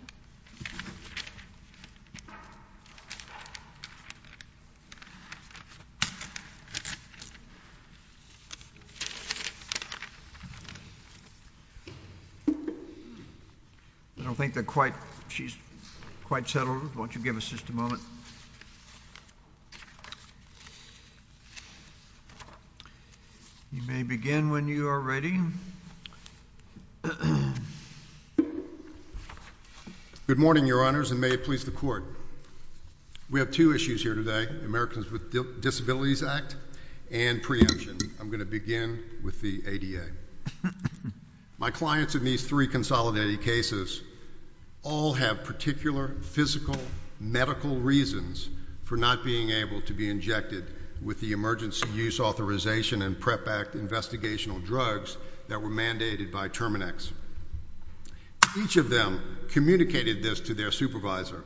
I don't think she's quite settled. Won't you give us just a moment? You may begin when you are ready. Good morning, Your Honors, and may it please the Court. We have two issues here today, Americans with Disabilities Act and preemption. I'm going to begin with the ADA. My clients in these three consolidated cases all have particular physical medical reasons for not being able to be injected with the Emergency Use Authorization and PrEP Act investigational drugs that were mandated by Terminix. Each of them communicated this to their supervisor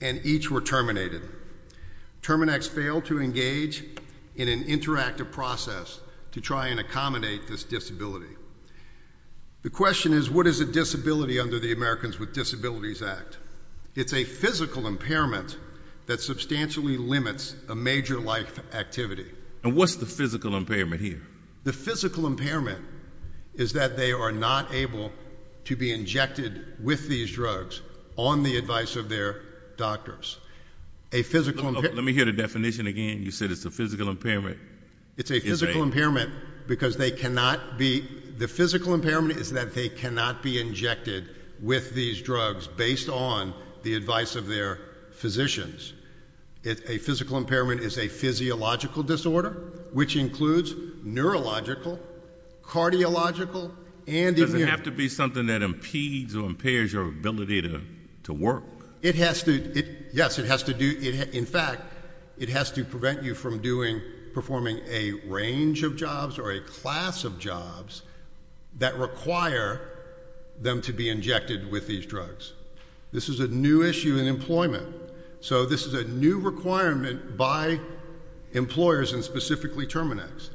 and each were terminated. Terminix failed to engage in an interactive process to try and accommodate this disability. The question is, what is a disability under the Americans with Disabilities Act? It's a physical impairment that substantially limits a major life activity. And what's the physical impairment here? The physical impairment is that they are not able to be injected with these drugs on the advice of their doctors. A physical impairment... Let me hear the definition again. You said it's a physical impairment. It's a physical impairment because they cannot be... The physical impairment is that they cannot be injected with these drugs based on the advice of their physicians. A physical impairment is a physiological disorder, which includes neurological, cardiological, and... Does it have to be something that impedes or impairs your ability to work? It has to... Yes, it has to do... In fact, it has to prevent you from performing a range of jobs or a class of jobs that require them to be injected with these drugs. This is a new issue in employment. So this is a new requirement by employers, and specifically Terminix.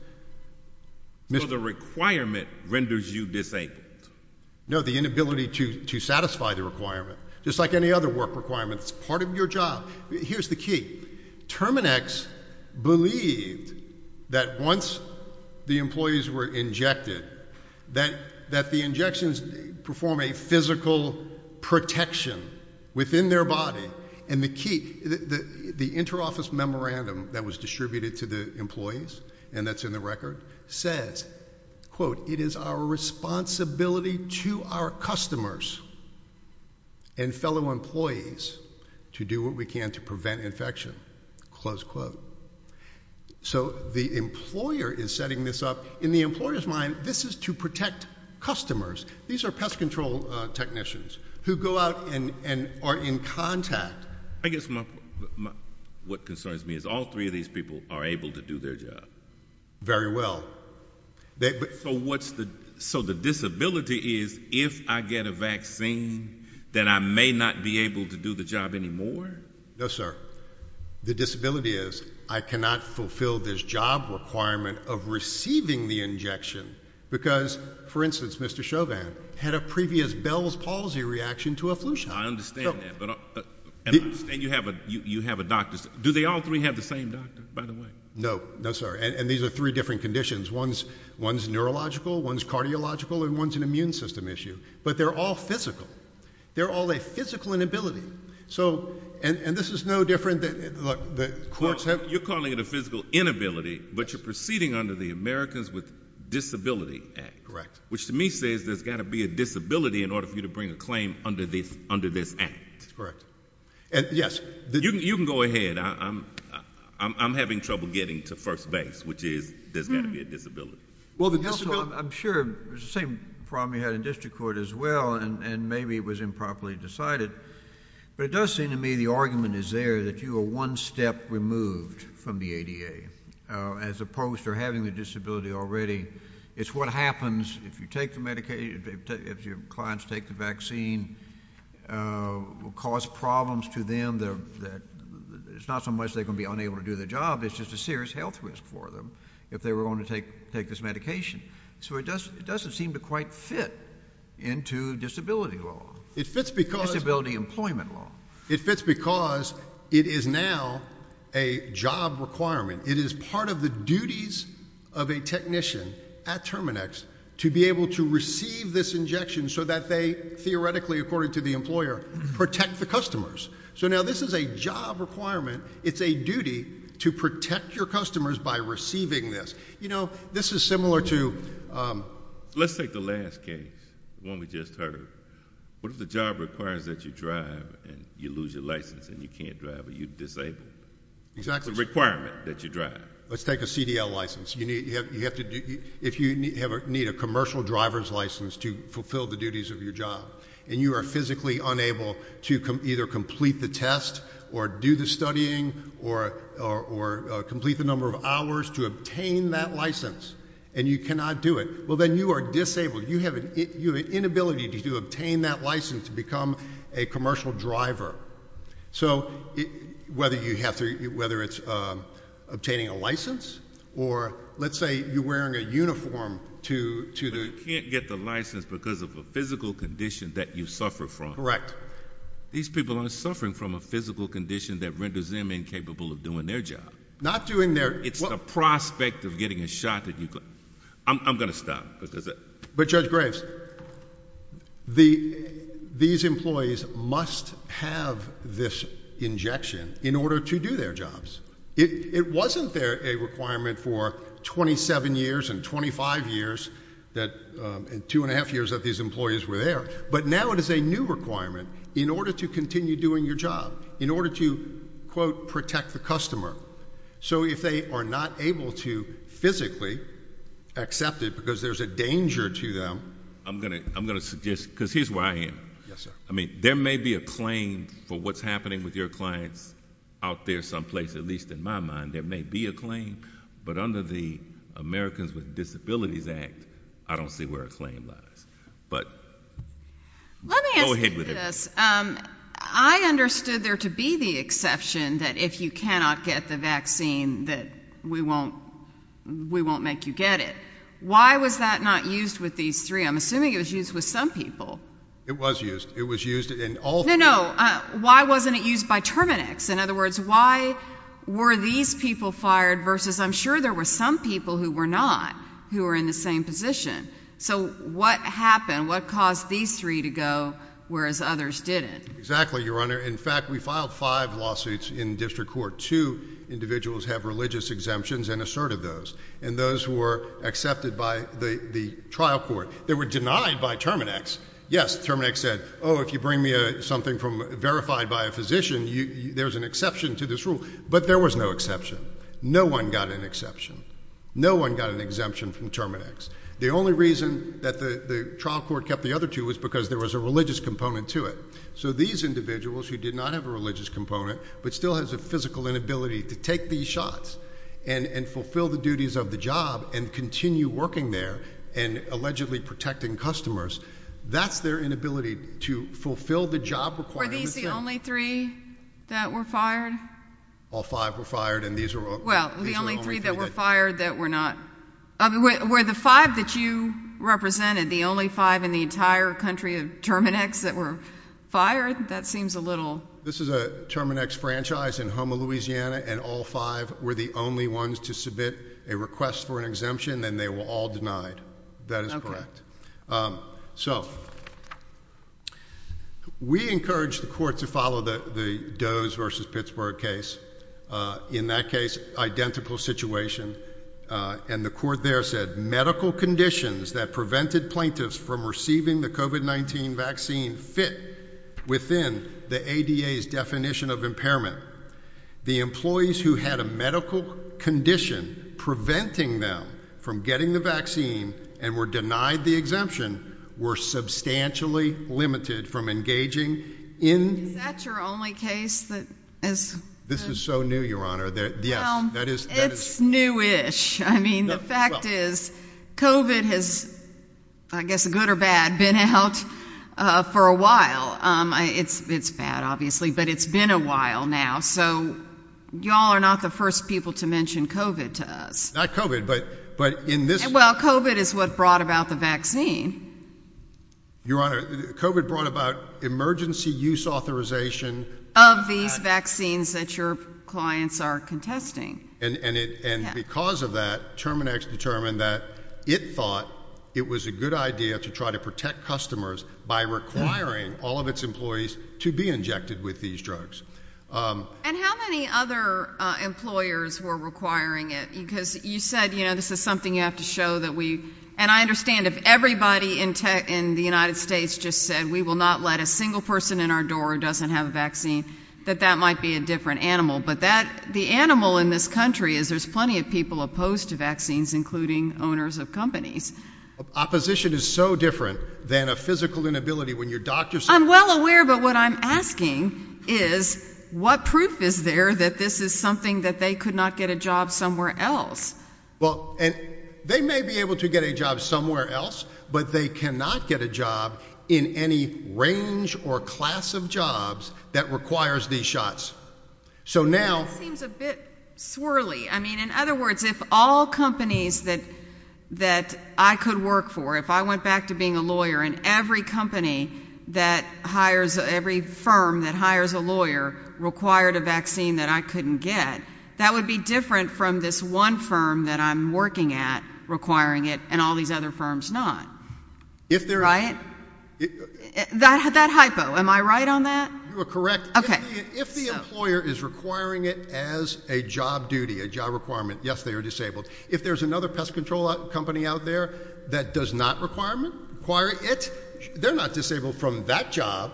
So the requirement renders you disabled? No, the inability to satisfy the requirement. Just like any other work requirement, it's that once the employees were injected, that the injections perform a physical protection within their body, and the key... The interoffice memorandum that was distributed to the employees, and that's in the record, says, quote, it is our responsibility to our customers and fellow employees to do what we can to prevent infection, close quote. So the employer is setting this up. In the employer's mind, this is to protect customers. These are pest control technicians who go out and are in contact. I guess what concerns me is all three of these people are able to do their job. Very well. So what's the... So the disability is, if I get a vaccine, that I may not be able to do the job anymore? No, sir. The disability is, I cannot fulfill this job requirement of receiving the injection because, for instance, Mr. Chauvin had a previous Bell's palsy reaction to a flu shot. I understand that, but... And you have a doctor... Do they all three have the same doctor, by the way? No, no, sir. And these are three different conditions. One's neurological, one's cardiological, and one's an immune system issue. But they're all physical. They're all a physical inability. So... And this is no different than... Look, the courts have... Well, you're calling it a physical inability, but you're proceeding under the Americans with Disability Act. Correct. Which to me says there's got to be a disability in order for you to bring a claim under this act. Correct. And yes... You can go ahead. I'm having trouble getting to first base, which is there's got to be a disability. I'm sure it's the same problem you had in district court as well, and maybe it was improperly decided. But it does seem to me the argument is there that you are one step removed from the ADA, as opposed to having the disability already. It's what happens if you take the medication, if your clients take the vaccine, will cause problems to them. It's not so much they're going to be unable to do their job, it's just a serious health risk for them if they were going to take this medication. So it doesn't seem to quite fit into disability law. It fits because... Disability employment law. It fits because it is now a job requirement. It is part of the duties of a technician at Terminex to be able to receive this injection so that they theoretically, according to the employer, protect the customers. So now this is a job requirement. It's a duty to protect your customers by receiving this. You know, this is similar to... Let's take the last case, the one we just heard. What if the job requires that you drive and you lose your license and you can't drive or you're disabled? Exactly. It's a requirement that you drive. Let's take a CDL license. If you need a commercial driver's license to fulfill the duties of your job, and you are physically unable to either complete the test or do the studying or complete the number of hours to obtain that license and you cannot do it, well, then you are disabled. You have an inability to obtain that license to become a commercial driver. So whether it's obtaining a license or let's say you're wearing a uniform to the... Correct. These people are suffering from a physical condition that renders them incapable of doing their job. Not doing their... It's the prospect of getting a shot that you... I'm going to stop. But Judge Graves, these employees must have this injection in order to do their jobs. It wasn't there a requirement for 27 years and 25 years and two and a half years that these employees were there. But now it is a new requirement in order to continue doing your job, in order to, quote, protect the customer. So if they are not able to physically accept it because there's a danger to them... I'm going to suggest, because here's where I am. Yes, sir. I mean, there may be a claim for what's happening with your clients out there someplace, at least in my mind. There may be a claim. But under the Americans with Disabilities Act, I don't see where a claim lies. But go ahead with it. Let me ask you this. I understood there to be the exception that if you cannot get the vaccine that we won't make you get it. Why was that not used with these three? I'm assuming it was used with some people. It was used. It was used in all three. No, no. Why wasn't it used by Terminex? In other words, why were these people fired versus I'm sure there were some people who were not who were in the same position. So what happened? What caused these three to go whereas others didn't? Exactly, Your Honor. In fact, we filed five lawsuits in district court. Two individuals have religious exemptions and asserted those. And those were accepted by the trial court. They were denied by Terminex. Yes, Terminex said, oh, if you bring me something verified by a physician, there's an exception to this rule. But there was no exception. No one got an exception. No one got an exemption from Terminex. The only reason that the trial court kept the other two was because there was a religious component to it. So these individuals who did not have a religious component but still has a physical inability to take these shots and fulfill the duties of the job and continue working there and allegedly protecting customers, that's their inability to fulfill the job requirements. Were these the only three that were fired? All five were fired and these were only three that were fired that were not. Were the five that you represented the only five in the entire country of Terminex that were fired? That seems a little. This is a Terminex franchise in Houma, Louisiana, and all five were the only ones to submit a request for an exemption and they were all denied. That is correct. So we encourage the court to follow the Doe's versus Pittsburgh case. In that case, identical situation. And the court there said medical conditions that prevented plaintiffs from receiving the COVID-19 vaccine fit within the A.D.A.'s definition of impairment. The employees who had a medical condition preventing them from getting the vaccine and were denied the exemption were substantially limited from engaging in. Is that your only case? It's newish. I mean, the fact is, COVID has, I guess, good or bad, been out for a while. It's bad, obviously, but it's been a while now. So y'all are not the first people to mention COVID to us. Not COVID, but in this. Well, COVID is what brought about the vaccine. Your Honor, COVID brought about emergency use authorization. Of these vaccines that your clients are contesting. And because of that, Terminex determined that it thought it was a good idea to try to protect customers by requiring all of its employees to be injected with these drugs. And how many other employers were requiring it? Because you said, you know, this is something you have to show that we, And I understand if everybody in the United States just said, we will not let a single person in our door who doesn't have a vaccine, that that might be a different animal. But that the animal in this country is there's plenty of people opposed to vaccines, including owners of companies. Opposition is so different than a physical inability when your doctor. I'm well aware. But what I'm asking is what proof is there that this is something that they could not get a job somewhere else? Well, and they may be able to get a job somewhere else, but they cannot get a job in any range or class of jobs that requires these shots. So now seems a bit swirly. I mean, in other words, if all companies that that I could work for, if I went back to being a lawyer and every company that hires every firm that hires a lawyer required a vaccine that I couldn't get. That would be different from this one firm that I'm working at requiring it and all these other firms not. If they're right. That had that hypo. Am I right on that? You are correct. If the employer is requiring it as a job duty, a job requirement. Yes, they are disabled. If there's another pest control company out there that does not require it, they're not disabled from that job.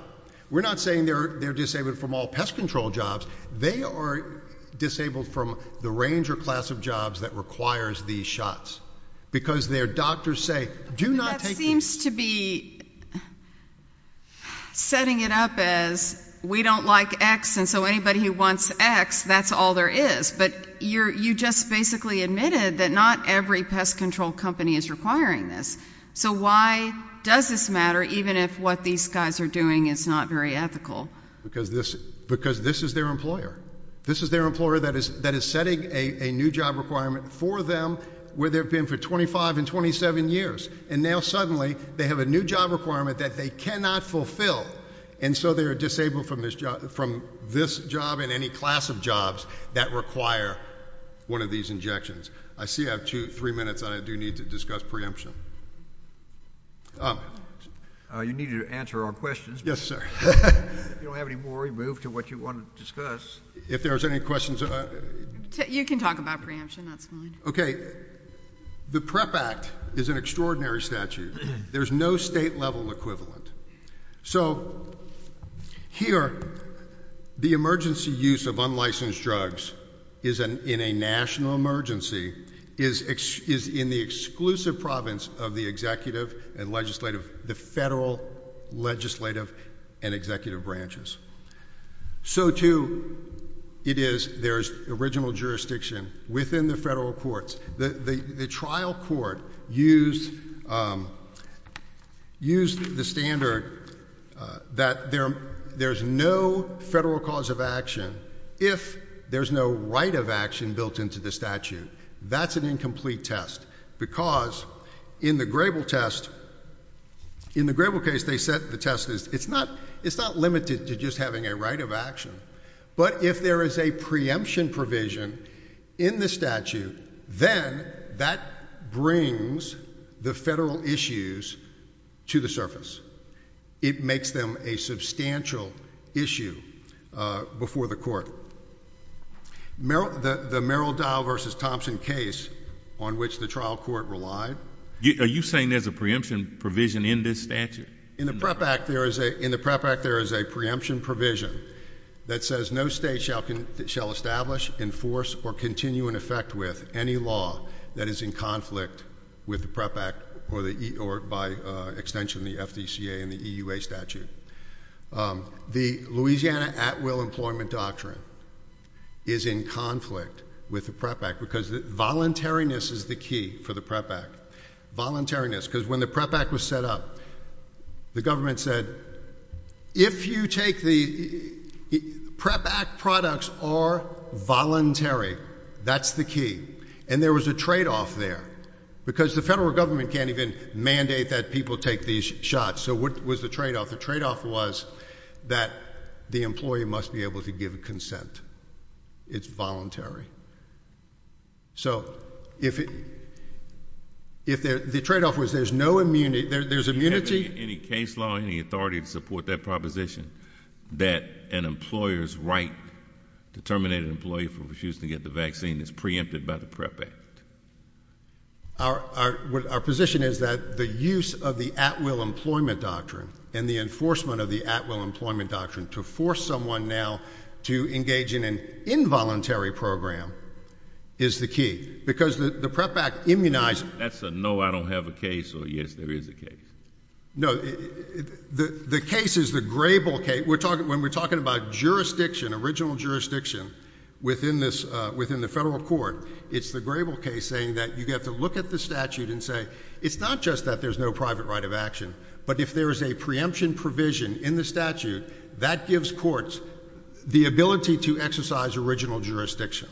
We're not saying they're disabled from all pest control jobs. They are disabled from the range or class of jobs that requires these shots because their doctors say do not. Seems to be. Setting it up as we don't like X. And so anybody who wants X, that's all there is. But you're you just basically admitted that not every pest control company is requiring this. So why does this matter? Even if what these guys are doing is not very ethical. Because this because this is their employer. This is their employer that is that is setting a new job requirement for them where they've been for 25 and 27 years. And now suddenly they have a new job requirement that they cannot fulfill. And so they are disabled from this job from this job in any class of jobs that require one of these injections. I see I have two three minutes. I do need to discuss preemption. You need to answer our questions. Yes, sir. You don't have any more removed to what you want to discuss. If there's any questions. You can talk about preemption. That's fine. Okay. The Prep Act is an extraordinary statute. There's no state level equivalent. So here the emergency use of unlicensed drugs is an in a national emergency is is in the exclusive province of the executive and legislative, the federal legislative and executive branches. So, too, it is there's original jurisdiction within the federal courts. The trial court used used the standard that there there's no federal cause of action. If there's no right of action built into the statute, that's an incomplete test. Because in the Grable test. In the gravel case, they said the test is it's not it's not limited to just having a right of action. But if there is a preemption provision in the statute, then that brings the federal issues to the surface. It makes them a substantial issue before the court. Merrill, the Merrill Dow versus Thompson case on which the trial court relied. Are you saying there's a preemption provision in this statute? In the prep act, there is a in the prep act. There is a preemption provision that says no state shall shall establish, enforce or continue in effect with any law that is in conflict with the prep act or the or by extension, the FDA and the EUA statute. The Louisiana at will employment doctrine. Is in conflict with the prep act because the voluntariness is the key for the prep act. Voluntariness. Because when the prep act was set up, the government said if you take the prep act products are voluntary, that's the key. And there was a tradeoff there. Because the federal government can't even mandate that people take these shots. So what was the tradeoff? The tradeoff was that the employee must be able to give consent. It's voluntary. So if the tradeoff was there's no immunity, there's immunity. Any case law, any authority to support that proposition that an employer's right to terminate an employee for refusing to get the vaccine is preempted by the prep act? Our position is that the use of the at will employment doctrine and the enforcement of the at will employment doctrine to force someone now to engage in an involuntary program is the key. Because the prep act immunized. That's a no I don't have a case or yes there is a case. No, the case is the Grable case. When we're talking about jurisdiction, original jurisdiction, within the federal court, it's the Grable case saying that you have to look at the statute and say it's not just that there's no private right of action. But if there's a preemption provision in the statute, that gives courts the ability to exercise original jurisdiction.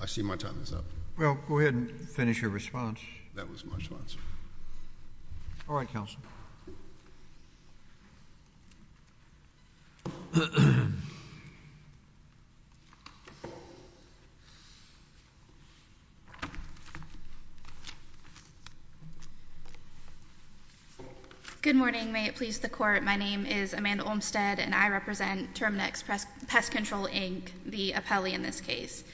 I see my time is up. Well, go ahead and finish your response. That was my response. All right, counsel. Good morning. May it please the court. My name is Amanda Olmstead and I represent Terminix Pest Control, Inc. The appellee in this case.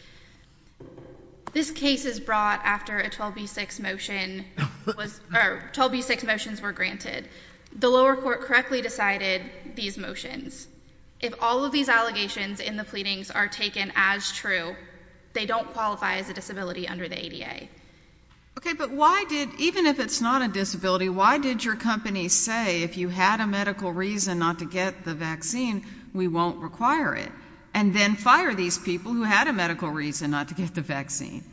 This case is brought after a 12B6 motion was 12B6 motions were granted. The lower court correctly decided these motions. If all of these allegations in the pleadings are taken as true, they don't qualify as a disability under the ADA. Okay, but why did even if it's not a disability, why did your company say if you had a medical reason not to get the vaccine, we won't require it. And then fire these people who had a medical reason not to get the vaccine.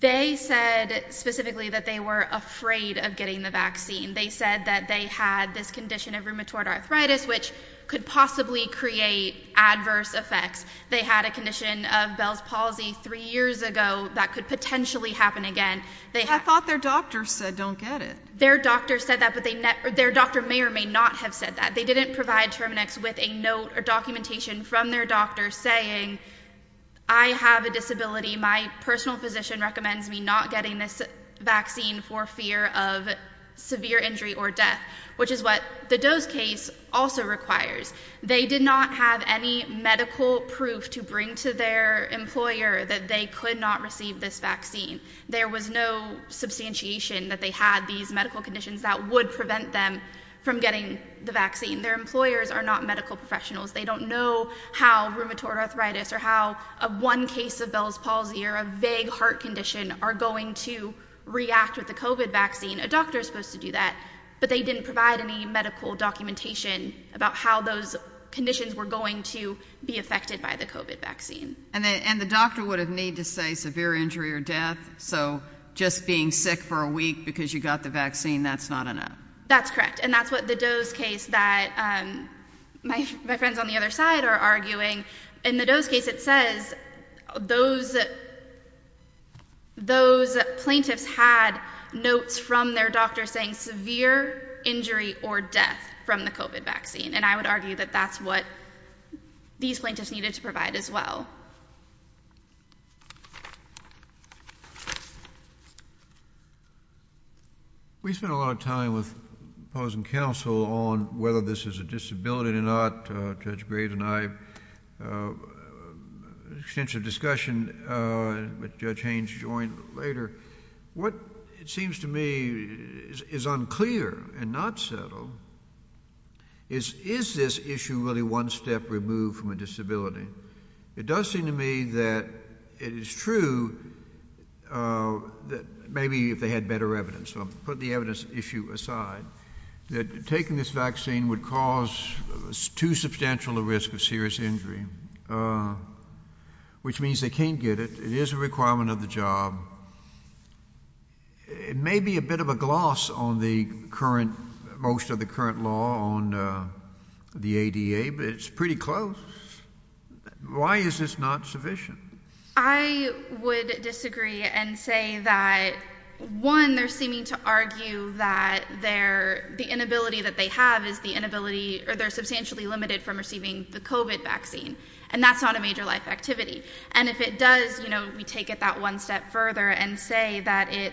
They said specifically that they were afraid of getting the vaccine. They said that they had this condition of rheumatoid arthritis, which could possibly create adverse effects. They had a condition of Bell's palsy three years ago that could potentially happen again. I thought their doctor said don't get it. Their doctor said that, but their doctor may or may not have said that. They didn't provide Terminix with a note or documentation from their doctor saying I have a disability. My personal physician recommends me not getting this vaccine for fear of severe injury or death, which is what the dose case also requires. They did not have any medical proof to bring to their employer that they could not receive this vaccine. There was no substantiation that they had these medical conditions that would prevent them from getting the vaccine. Their employers are not medical professionals. They don't know how rheumatoid arthritis or how a one case of Bell's palsy or a vague heart condition are going to react with the COVID vaccine. A doctor is supposed to do that, but they didn't provide any medical documentation about how those conditions were going to be affected by the COVID vaccine. And the doctor would have need to say severe injury or death. So just being sick for a week because you got the vaccine, that's not enough. That's correct. And that's what the dose case that my friends on the other side are arguing. In the dose case, it says those those plaintiffs had notes from their doctor saying severe injury or death from the COVID vaccine. And I would argue that that's what these plaintiffs needed to provide as well. We spent a lot of time with opposing counsel on whether this is a disability or not. Judge Graves and I had an extensive discussion with Judge Haynes later. What it seems to me is unclear and not settled is, is this issue really one step removed from a disability? It does seem to me that it is true that maybe if they had better evidence. Put the evidence issue aside, that taking this vaccine would cause too substantial a risk of serious injury, which means they can't get it. It is a requirement of the job. It may be a bit of a gloss on the current most of the current law on the ADA, but it's pretty close. Why is this not sufficient? I would disagree and say that one, they're seeming to argue that they're the inability that they have is the inability or they're substantially limited from receiving the COVID vaccine. And that's not a major life activity. And if it does, you know, we take it that one step further and say that if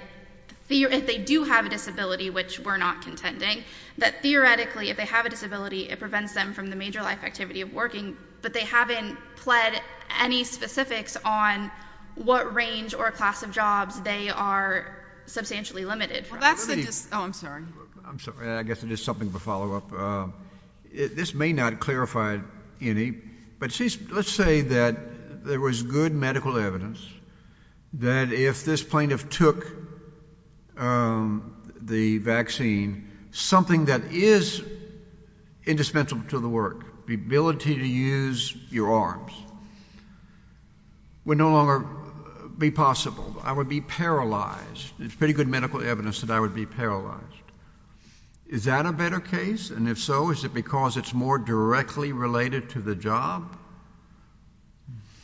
they do have a disability, which we're not contending that theoretically, if they have a disability, it prevents them from the major life activity of working. But they haven't pled any specifics on what range or class of jobs they are substantially limited. Well, that's the oh, I'm sorry. I'm sorry. I guess it is something of a follow up. This may not clarify any, but let's say that there was good medical evidence that if this plaintiff took the vaccine, something that is indispensable to the work, the ability to use your arms. Would no longer be possible. I would be paralyzed. It's pretty good medical evidence that I would be paralyzed. Is that a better case? And if so, is it because it's more directly related to the job?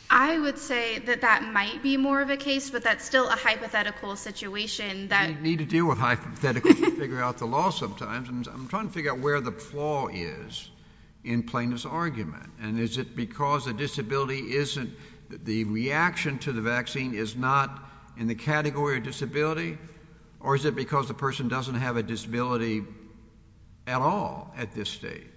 I would say that that might be more of a case, but that's still a hypothetical situation that need to do a hypothetical figure out the law sometimes. And I'm trying to figure out where the flaw is in plaintiff's argument. And is it because a disability isn't the reaction to the vaccine is not in the category of disability? Or is it because the person doesn't have a disability at all at this stage?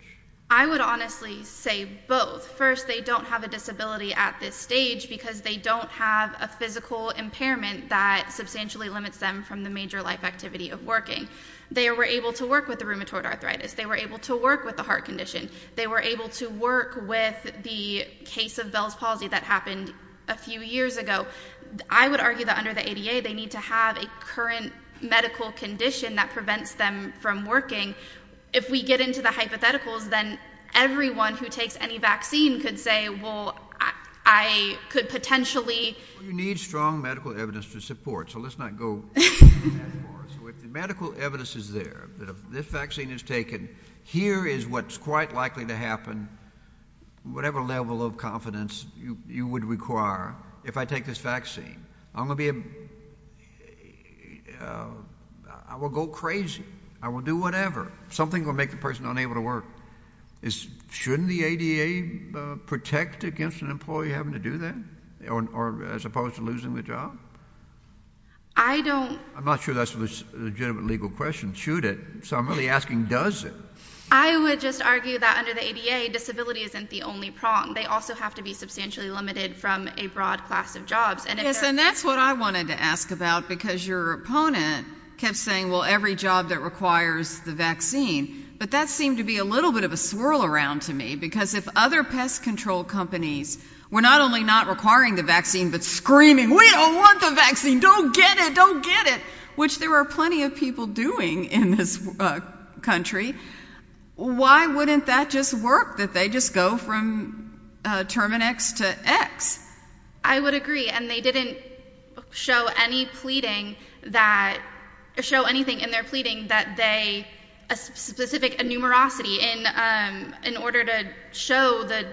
I would honestly say both. First, they don't have a disability at this stage because they don't have a physical impairment that substantially limits them from the major life activity of working. They were able to work with the rheumatoid arthritis. They were able to work with the heart condition. They were able to work with the case of Bell's palsy that happened a few years ago. I would argue that under the ADA, they need to have a current medical condition that prevents them from working. If we get into the hypotheticals, then everyone who takes any vaccine could say, well, I could potentially. You need strong medical evidence to support. So let's not go that far. Medical evidence is there. This vaccine is taken. Here is what's quite likely to happen. Whatever level of confidence you would require. If I take this vaccine, I'm going to be. I will go crazy. I will do whatever. Something will make the person unable to work. Is shouldn't the ADA protect against an employee having to do that? Or as opposed to losing the job? I don't. I'm not sure that's a legitimate legal question. Shoot it. So I'm really asking, does it? I would just argue that under the ADA, disability isn't the only problem. They also have to be substantially limited from a broad class of jobs. And that's what I wanted to ask about, because your opponent kept saying, well, every job that requires the vaccine. But that seemed to be a little bit of a swirl around to me. Because if other pest control companies were not only not requiring the vaccine, but screaming, We don't want the vaccine. Don't get it. Don't get it. Which there are plenty of people doing in this country. Why wouldn't that just work that they just go from Terminix to X? I would agree. And they didn't show any pleading that show anything in their pleading that they specific a numerosity in order to show that.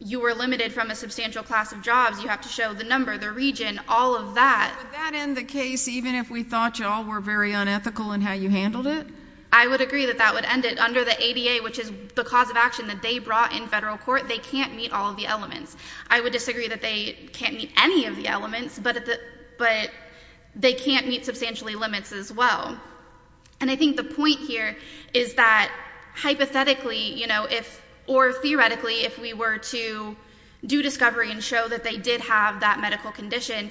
You were limited from a substantial class of jobs. You have to show the number, the region, all of that. Would that end the case, even if we thought you all were very unethical in how you handled it? I would agree that that would end it under the ADA, which is the cause of action that they brought in federal court. They can't meet all of the elements. I would disagree that they can't meet any of the elements, but they can't meet substantially limits as well. And I think the point here is that hypothetically, you know, if, or theoretically, if we were to do discovery and show that they did have that medical condition,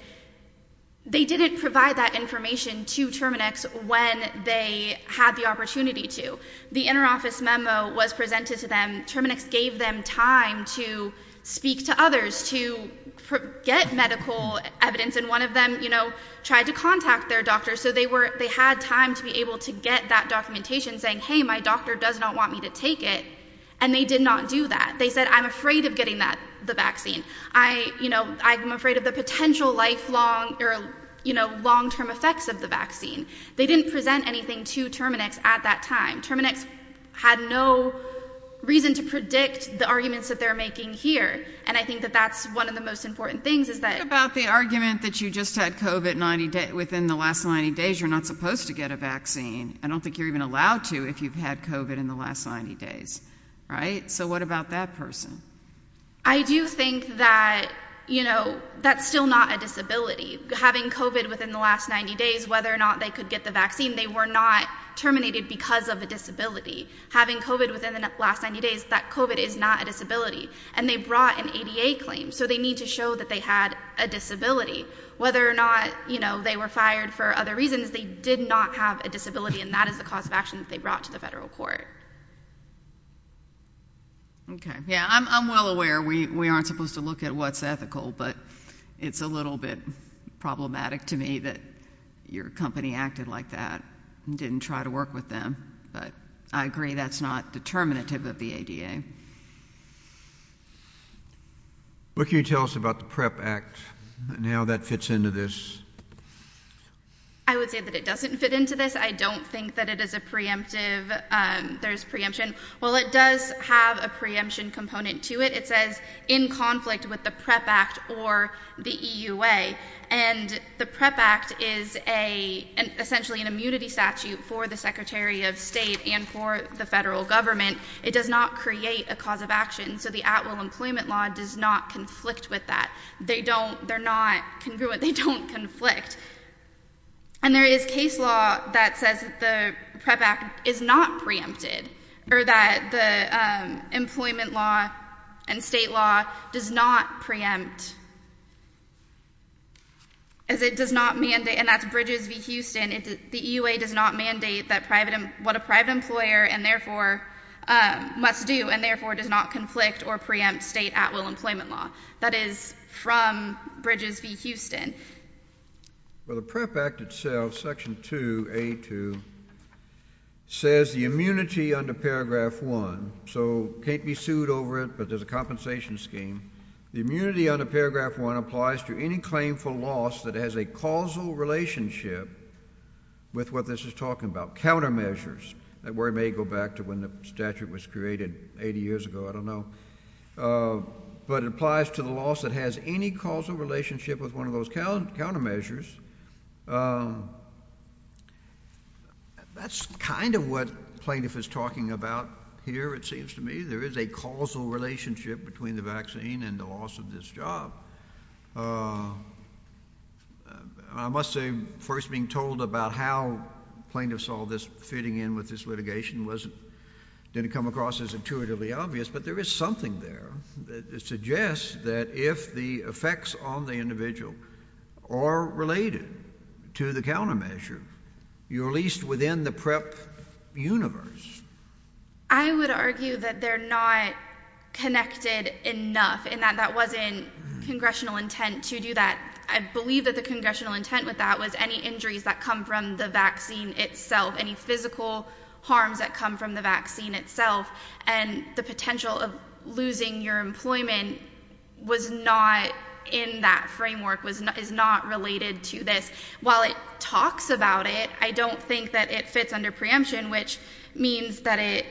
they didn't provide that information to Terminix when they had the opportunity to. The interoffice memo was presented to them. Terminix gave them time to speak to others, to get medical evidence. And one of them, you know, tried to contact their doctor. So they were, they had time to be able to get that documentation saying, hey, my doctor does not want me to take it. And they did not do that. They said, I'm afraid of getting that, the vaccine. I, you know, I'm afraid of the potential lifelong or, you know, long term effects of the vaccine. They didn't present anything to Terminix at that time. Terminix had no reason to predict the arguments that they're making here. And I think that that's one of the most important things is that about the argument that you just had COVID 90 days within the last 90 days, you're not supposed to get a vaccine. I don't think you're even allowed to if you've had COVID in the last 90 days. Right. So what about that person? I do think that, you know, that's still not a disability. Having COVID within the last 90 days, whether or not they could get the vaccine, they were not terminated because of a disability. Having COVID within the last 90 days, that COVID is not a disability. And they brought an ADA claim. So they need to show that they had a disability. Whether or not, you know, they were fired for other reasons, they did not have a disability. And that is the cause of action that they brought to the federal court. Okay. Yeah, I'm well aware we aren't supposed to look at what's ethical. But it's a little bit problematic to me that your company acted like that and didn't try to work with them. But I agree that's not determinative of the ADA. What can you tell us about the PREP Act and how that fits into this? I would say that it doesn't fit into this. I don't think that it is a preemptive. There's preemption. Well, it does have a preemption component to it. It says in conflict with the PREP Act or the EUA. And the PREP Act is essentially an immunity statute for the Secretary of State and for the federal government. It does not create a cause of action. So the at-will employment law does not conflict with that. They're not congruent. They don't conflict. And there is case law that says the PREP Act is not preempted. Or that the employment law and state law does not preempt. As it does not mandate, and that's Bridges v. Houston, the EUA does not mandate what a private employer must do and therefore does not conflict or preempt state at-will employment law. Well, the PREP Act itself, Section 2A2, says the immunity under Paragraph 1, so can't be sued over it, but there's a compensation scheme. The immunity under Paragraph 1 applies to any claim for loss that has a causal relationship with what this is talking about, countermeasures. That word may go back to when the statute was created 80 years ago. I don't know. But it applies to the loss that has any causal relationship with one of those countermeasures. That's kind of what plaintiff is talking about here, it seems to me. There is a causal relationship between the vaccine and the loss of this job. I must say, first being told about how plaintiffs saw this fitting in with this litigation didn't come across as intuitively obvious, but there is something there that suggests that if the effects on the individual are related to the countermeasure, you're at least within the PREP universe. I would argue that they're not connected enough and that that wasn't congressional intent to do that. I believe that the congressional intent with that was any injuries that come from the vaccine itself, any physical harms that come from the vaccine itself, and the potential of losing your employment was not in that framework, is not related to this. While it talks about it, I don't think that it fits under preemption, which means that it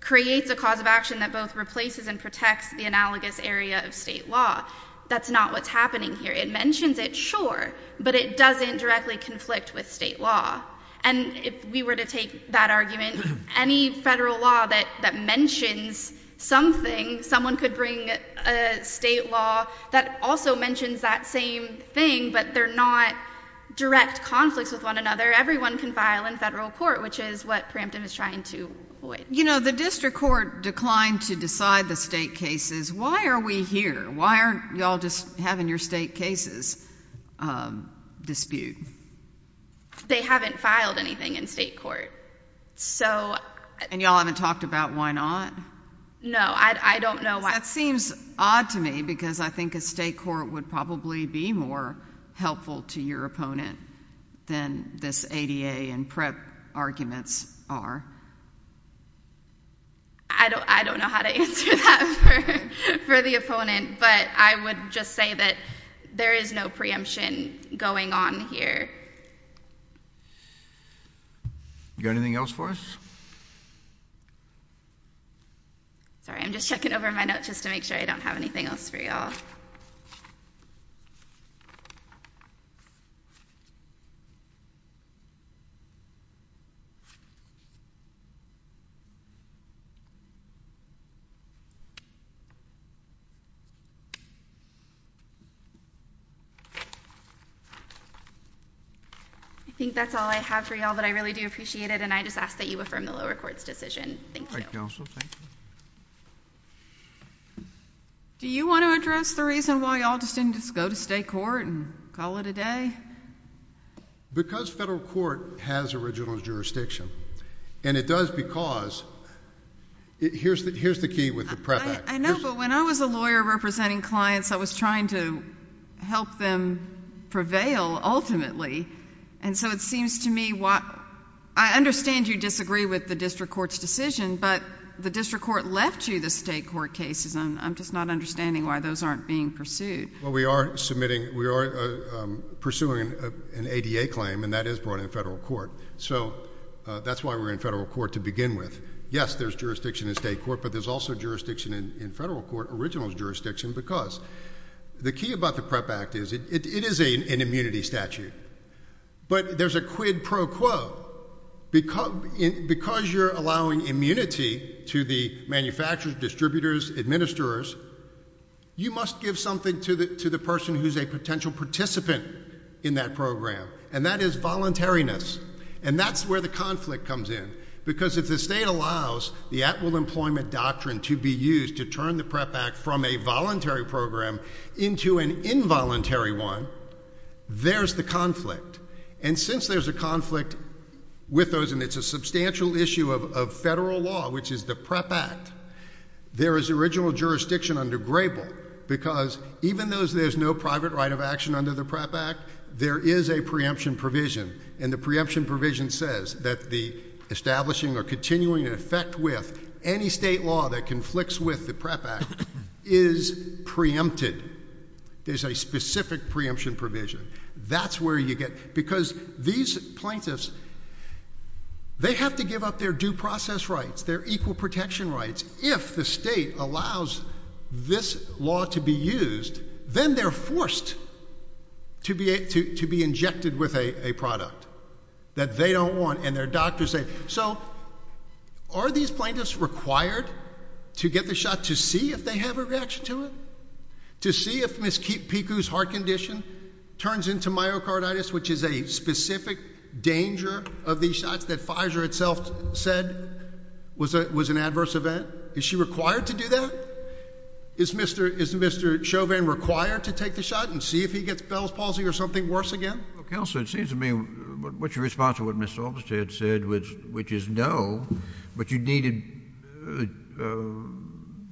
creates a cause of action that both replaces and protects the analogous area of state law. That's not what's happening here. It mentions it, sure, but it doesn't directly conflict with state law. And if we were to take that argument, any federal law that mentions something, someone could bring a state law that also mentions that same thing, but they're not direct conflicts with one another. Everyone can file in federal court, which is what preemptive is trying to avoid. You know, the district court declined to decide the state cases. Why are we here? Why aren't you all just having your state cases dispute? They haven't filed anything in state court. And you all haven't talked about why not? No, I don't know why. That seems odd to me because I think a state court would probably be more helpful to your opponent than this ADA and PrEP arguments are. I don't know how to answer that for the opponent, but I would just say that there is no preemption going on here. You got anything else for us? Sorry, I'm just checking over my notes just to make sure I don't have anything else for you all. I think that's all I have for you all, but I really do appreciate it, and I just ask that you affirm the lower court's decision. Thank you. All right, counsel. Thank you. Do you want to address the reason why you all just didn't just go to state court and call it a day? Because federal court has original jurisdiction, and it does because... Here's the key with the PrEP Act. I know, but when I was a lawyer representing the district court, representing clients, I was trying to help them prevail ultimately, and so it seems to me... I understand you disagree with the district court's decision, but the district court left you the state court cases, and I'm just not understanding why those aren't being pursued. Well, we are pursuing an ADA claim, and that is brought in federal court, so that's why we're in federal court to begin with. Yes, there's jurisdiction in state court, but there's also jurisdiction in federal court, original jurisdiction, because the key about the PrEP Act is it is an immunity statute, but there's a quid pro quo. Because you're allowing immunity to the manufacturers, distributors, administrators, you must give something to the person who's a potential participant in that program, and that is voluntariness, and that's where the conflict comes in, because if the state allows the at-will employment doctrine to be used to turn the PrEP Act from a voluntary program into an involuntary one, there's the conflict. And since there's a conflict with those, and it's a substantial issue of federal law, which is the PrEP Act, there is original jurisdiction under Grable, because even though there's no private right of action under the PrEP Act, there is a preemption provision, and the preemption provision says that the establishing or continuing effect with any state law that conflicts with the PrEP Act is preempted. There's a specific preemption provision. That's where you get it, because these plaintiffs, they have to give up their due process rights, their equal protection rights. If the state allows this law to be used, then they're forced to be injected with a product that they don't want, and their doctors say, so are these plaintiffs required to get the shot to see if they have a reaction to it, to see if Ms. Piku's heart condition turns into myocarditis, which is a specific danger of these shots that Pfizer itself said was an adverse event? Is she required to do that? Is Mr. Chauvin required to take the shot and see if he gets Bell's palsy or something worse again? Well, Counselor, it seems to me, what's your response to what Mr. Olmstead said, which is no, but you needed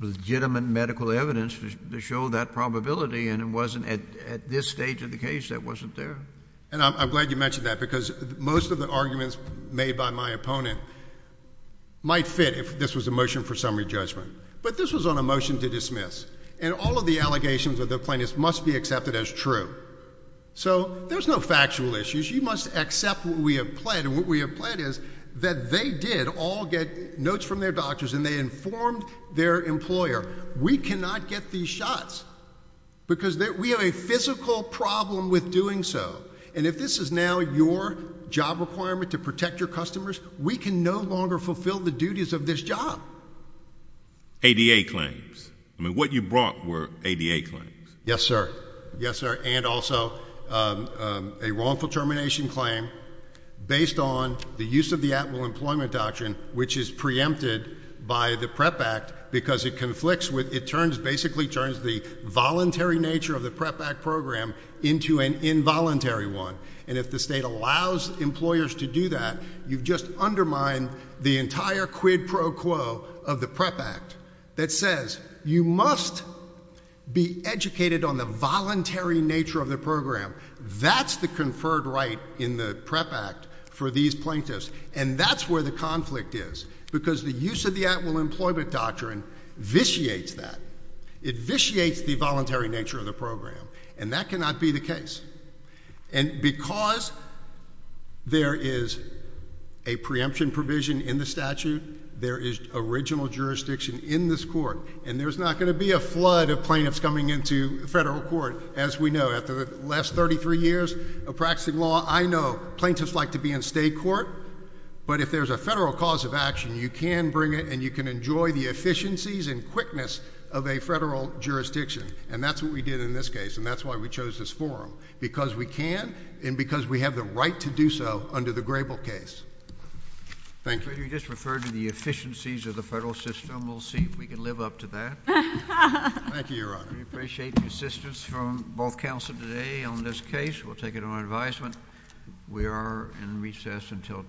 legitimate medical evidence to show that probability, and it wasn't at this stage of the case that wasn't there. And I'm glad you mentioned that, because most of the arguments made by my opponent might fit if this was a motion for summary judgment. But this was on a motion to dismiss, and all of the allegations of the plaintiffs must be accepted as true. So there's no factual issues. You must accept what we have pled, and what we have pled is that they did all get notes from their doctors, and they informed their employer, we cannot get these shots, because we have a physical problem with doing so. And if this is now your job requirement to protect your customers, we can no longer fulfill the duties of this job. ADA claims. I mean, what you brought were ADA claims. Yes, sir. Yes, sir. And also a wrongful termination claim based on the use of the At-Will Employment Doctrine, which is preempted by the PREP Act, because it basically turns the voluntary nature of the PREP Act program into an involuntary one. And if the state allows employers to do that, you've just undermined the entire quid pro quo of the PREP Act that says you must be educated on the voluntary nature of the program. That's the conferred right in the PREP Act for these plaintiffs. And that's where the conflict is, because the use of the At-Will Employment Doctrine vitiates that. It vitiates the voluntary nature of the program, and that cannot be the case. And because there is a preemption provision in the statute, there is original jurisdiction in this court, and there's not going to be a flood of plaintiffs coming into federal court. So, as we know, after the last 33 years of practicing law, I know plaintiffs like to be in state court. But if there's a federal cause of action, you can bring it, and you can enjoy the efficiencies and quickness of a federal jurisdiction. And that's what we did in this case, and that's why we chose this forum. Because we can, and because we have the right to do so under the Grable case. Thank you. You just referred to the efficiencies of the federal system. We'll see if we can live up to that. Thank you, Your Honor. We appreciate the assistance from both counsel today on this case. We'll take it on advisement. We are in recess until tomorrow.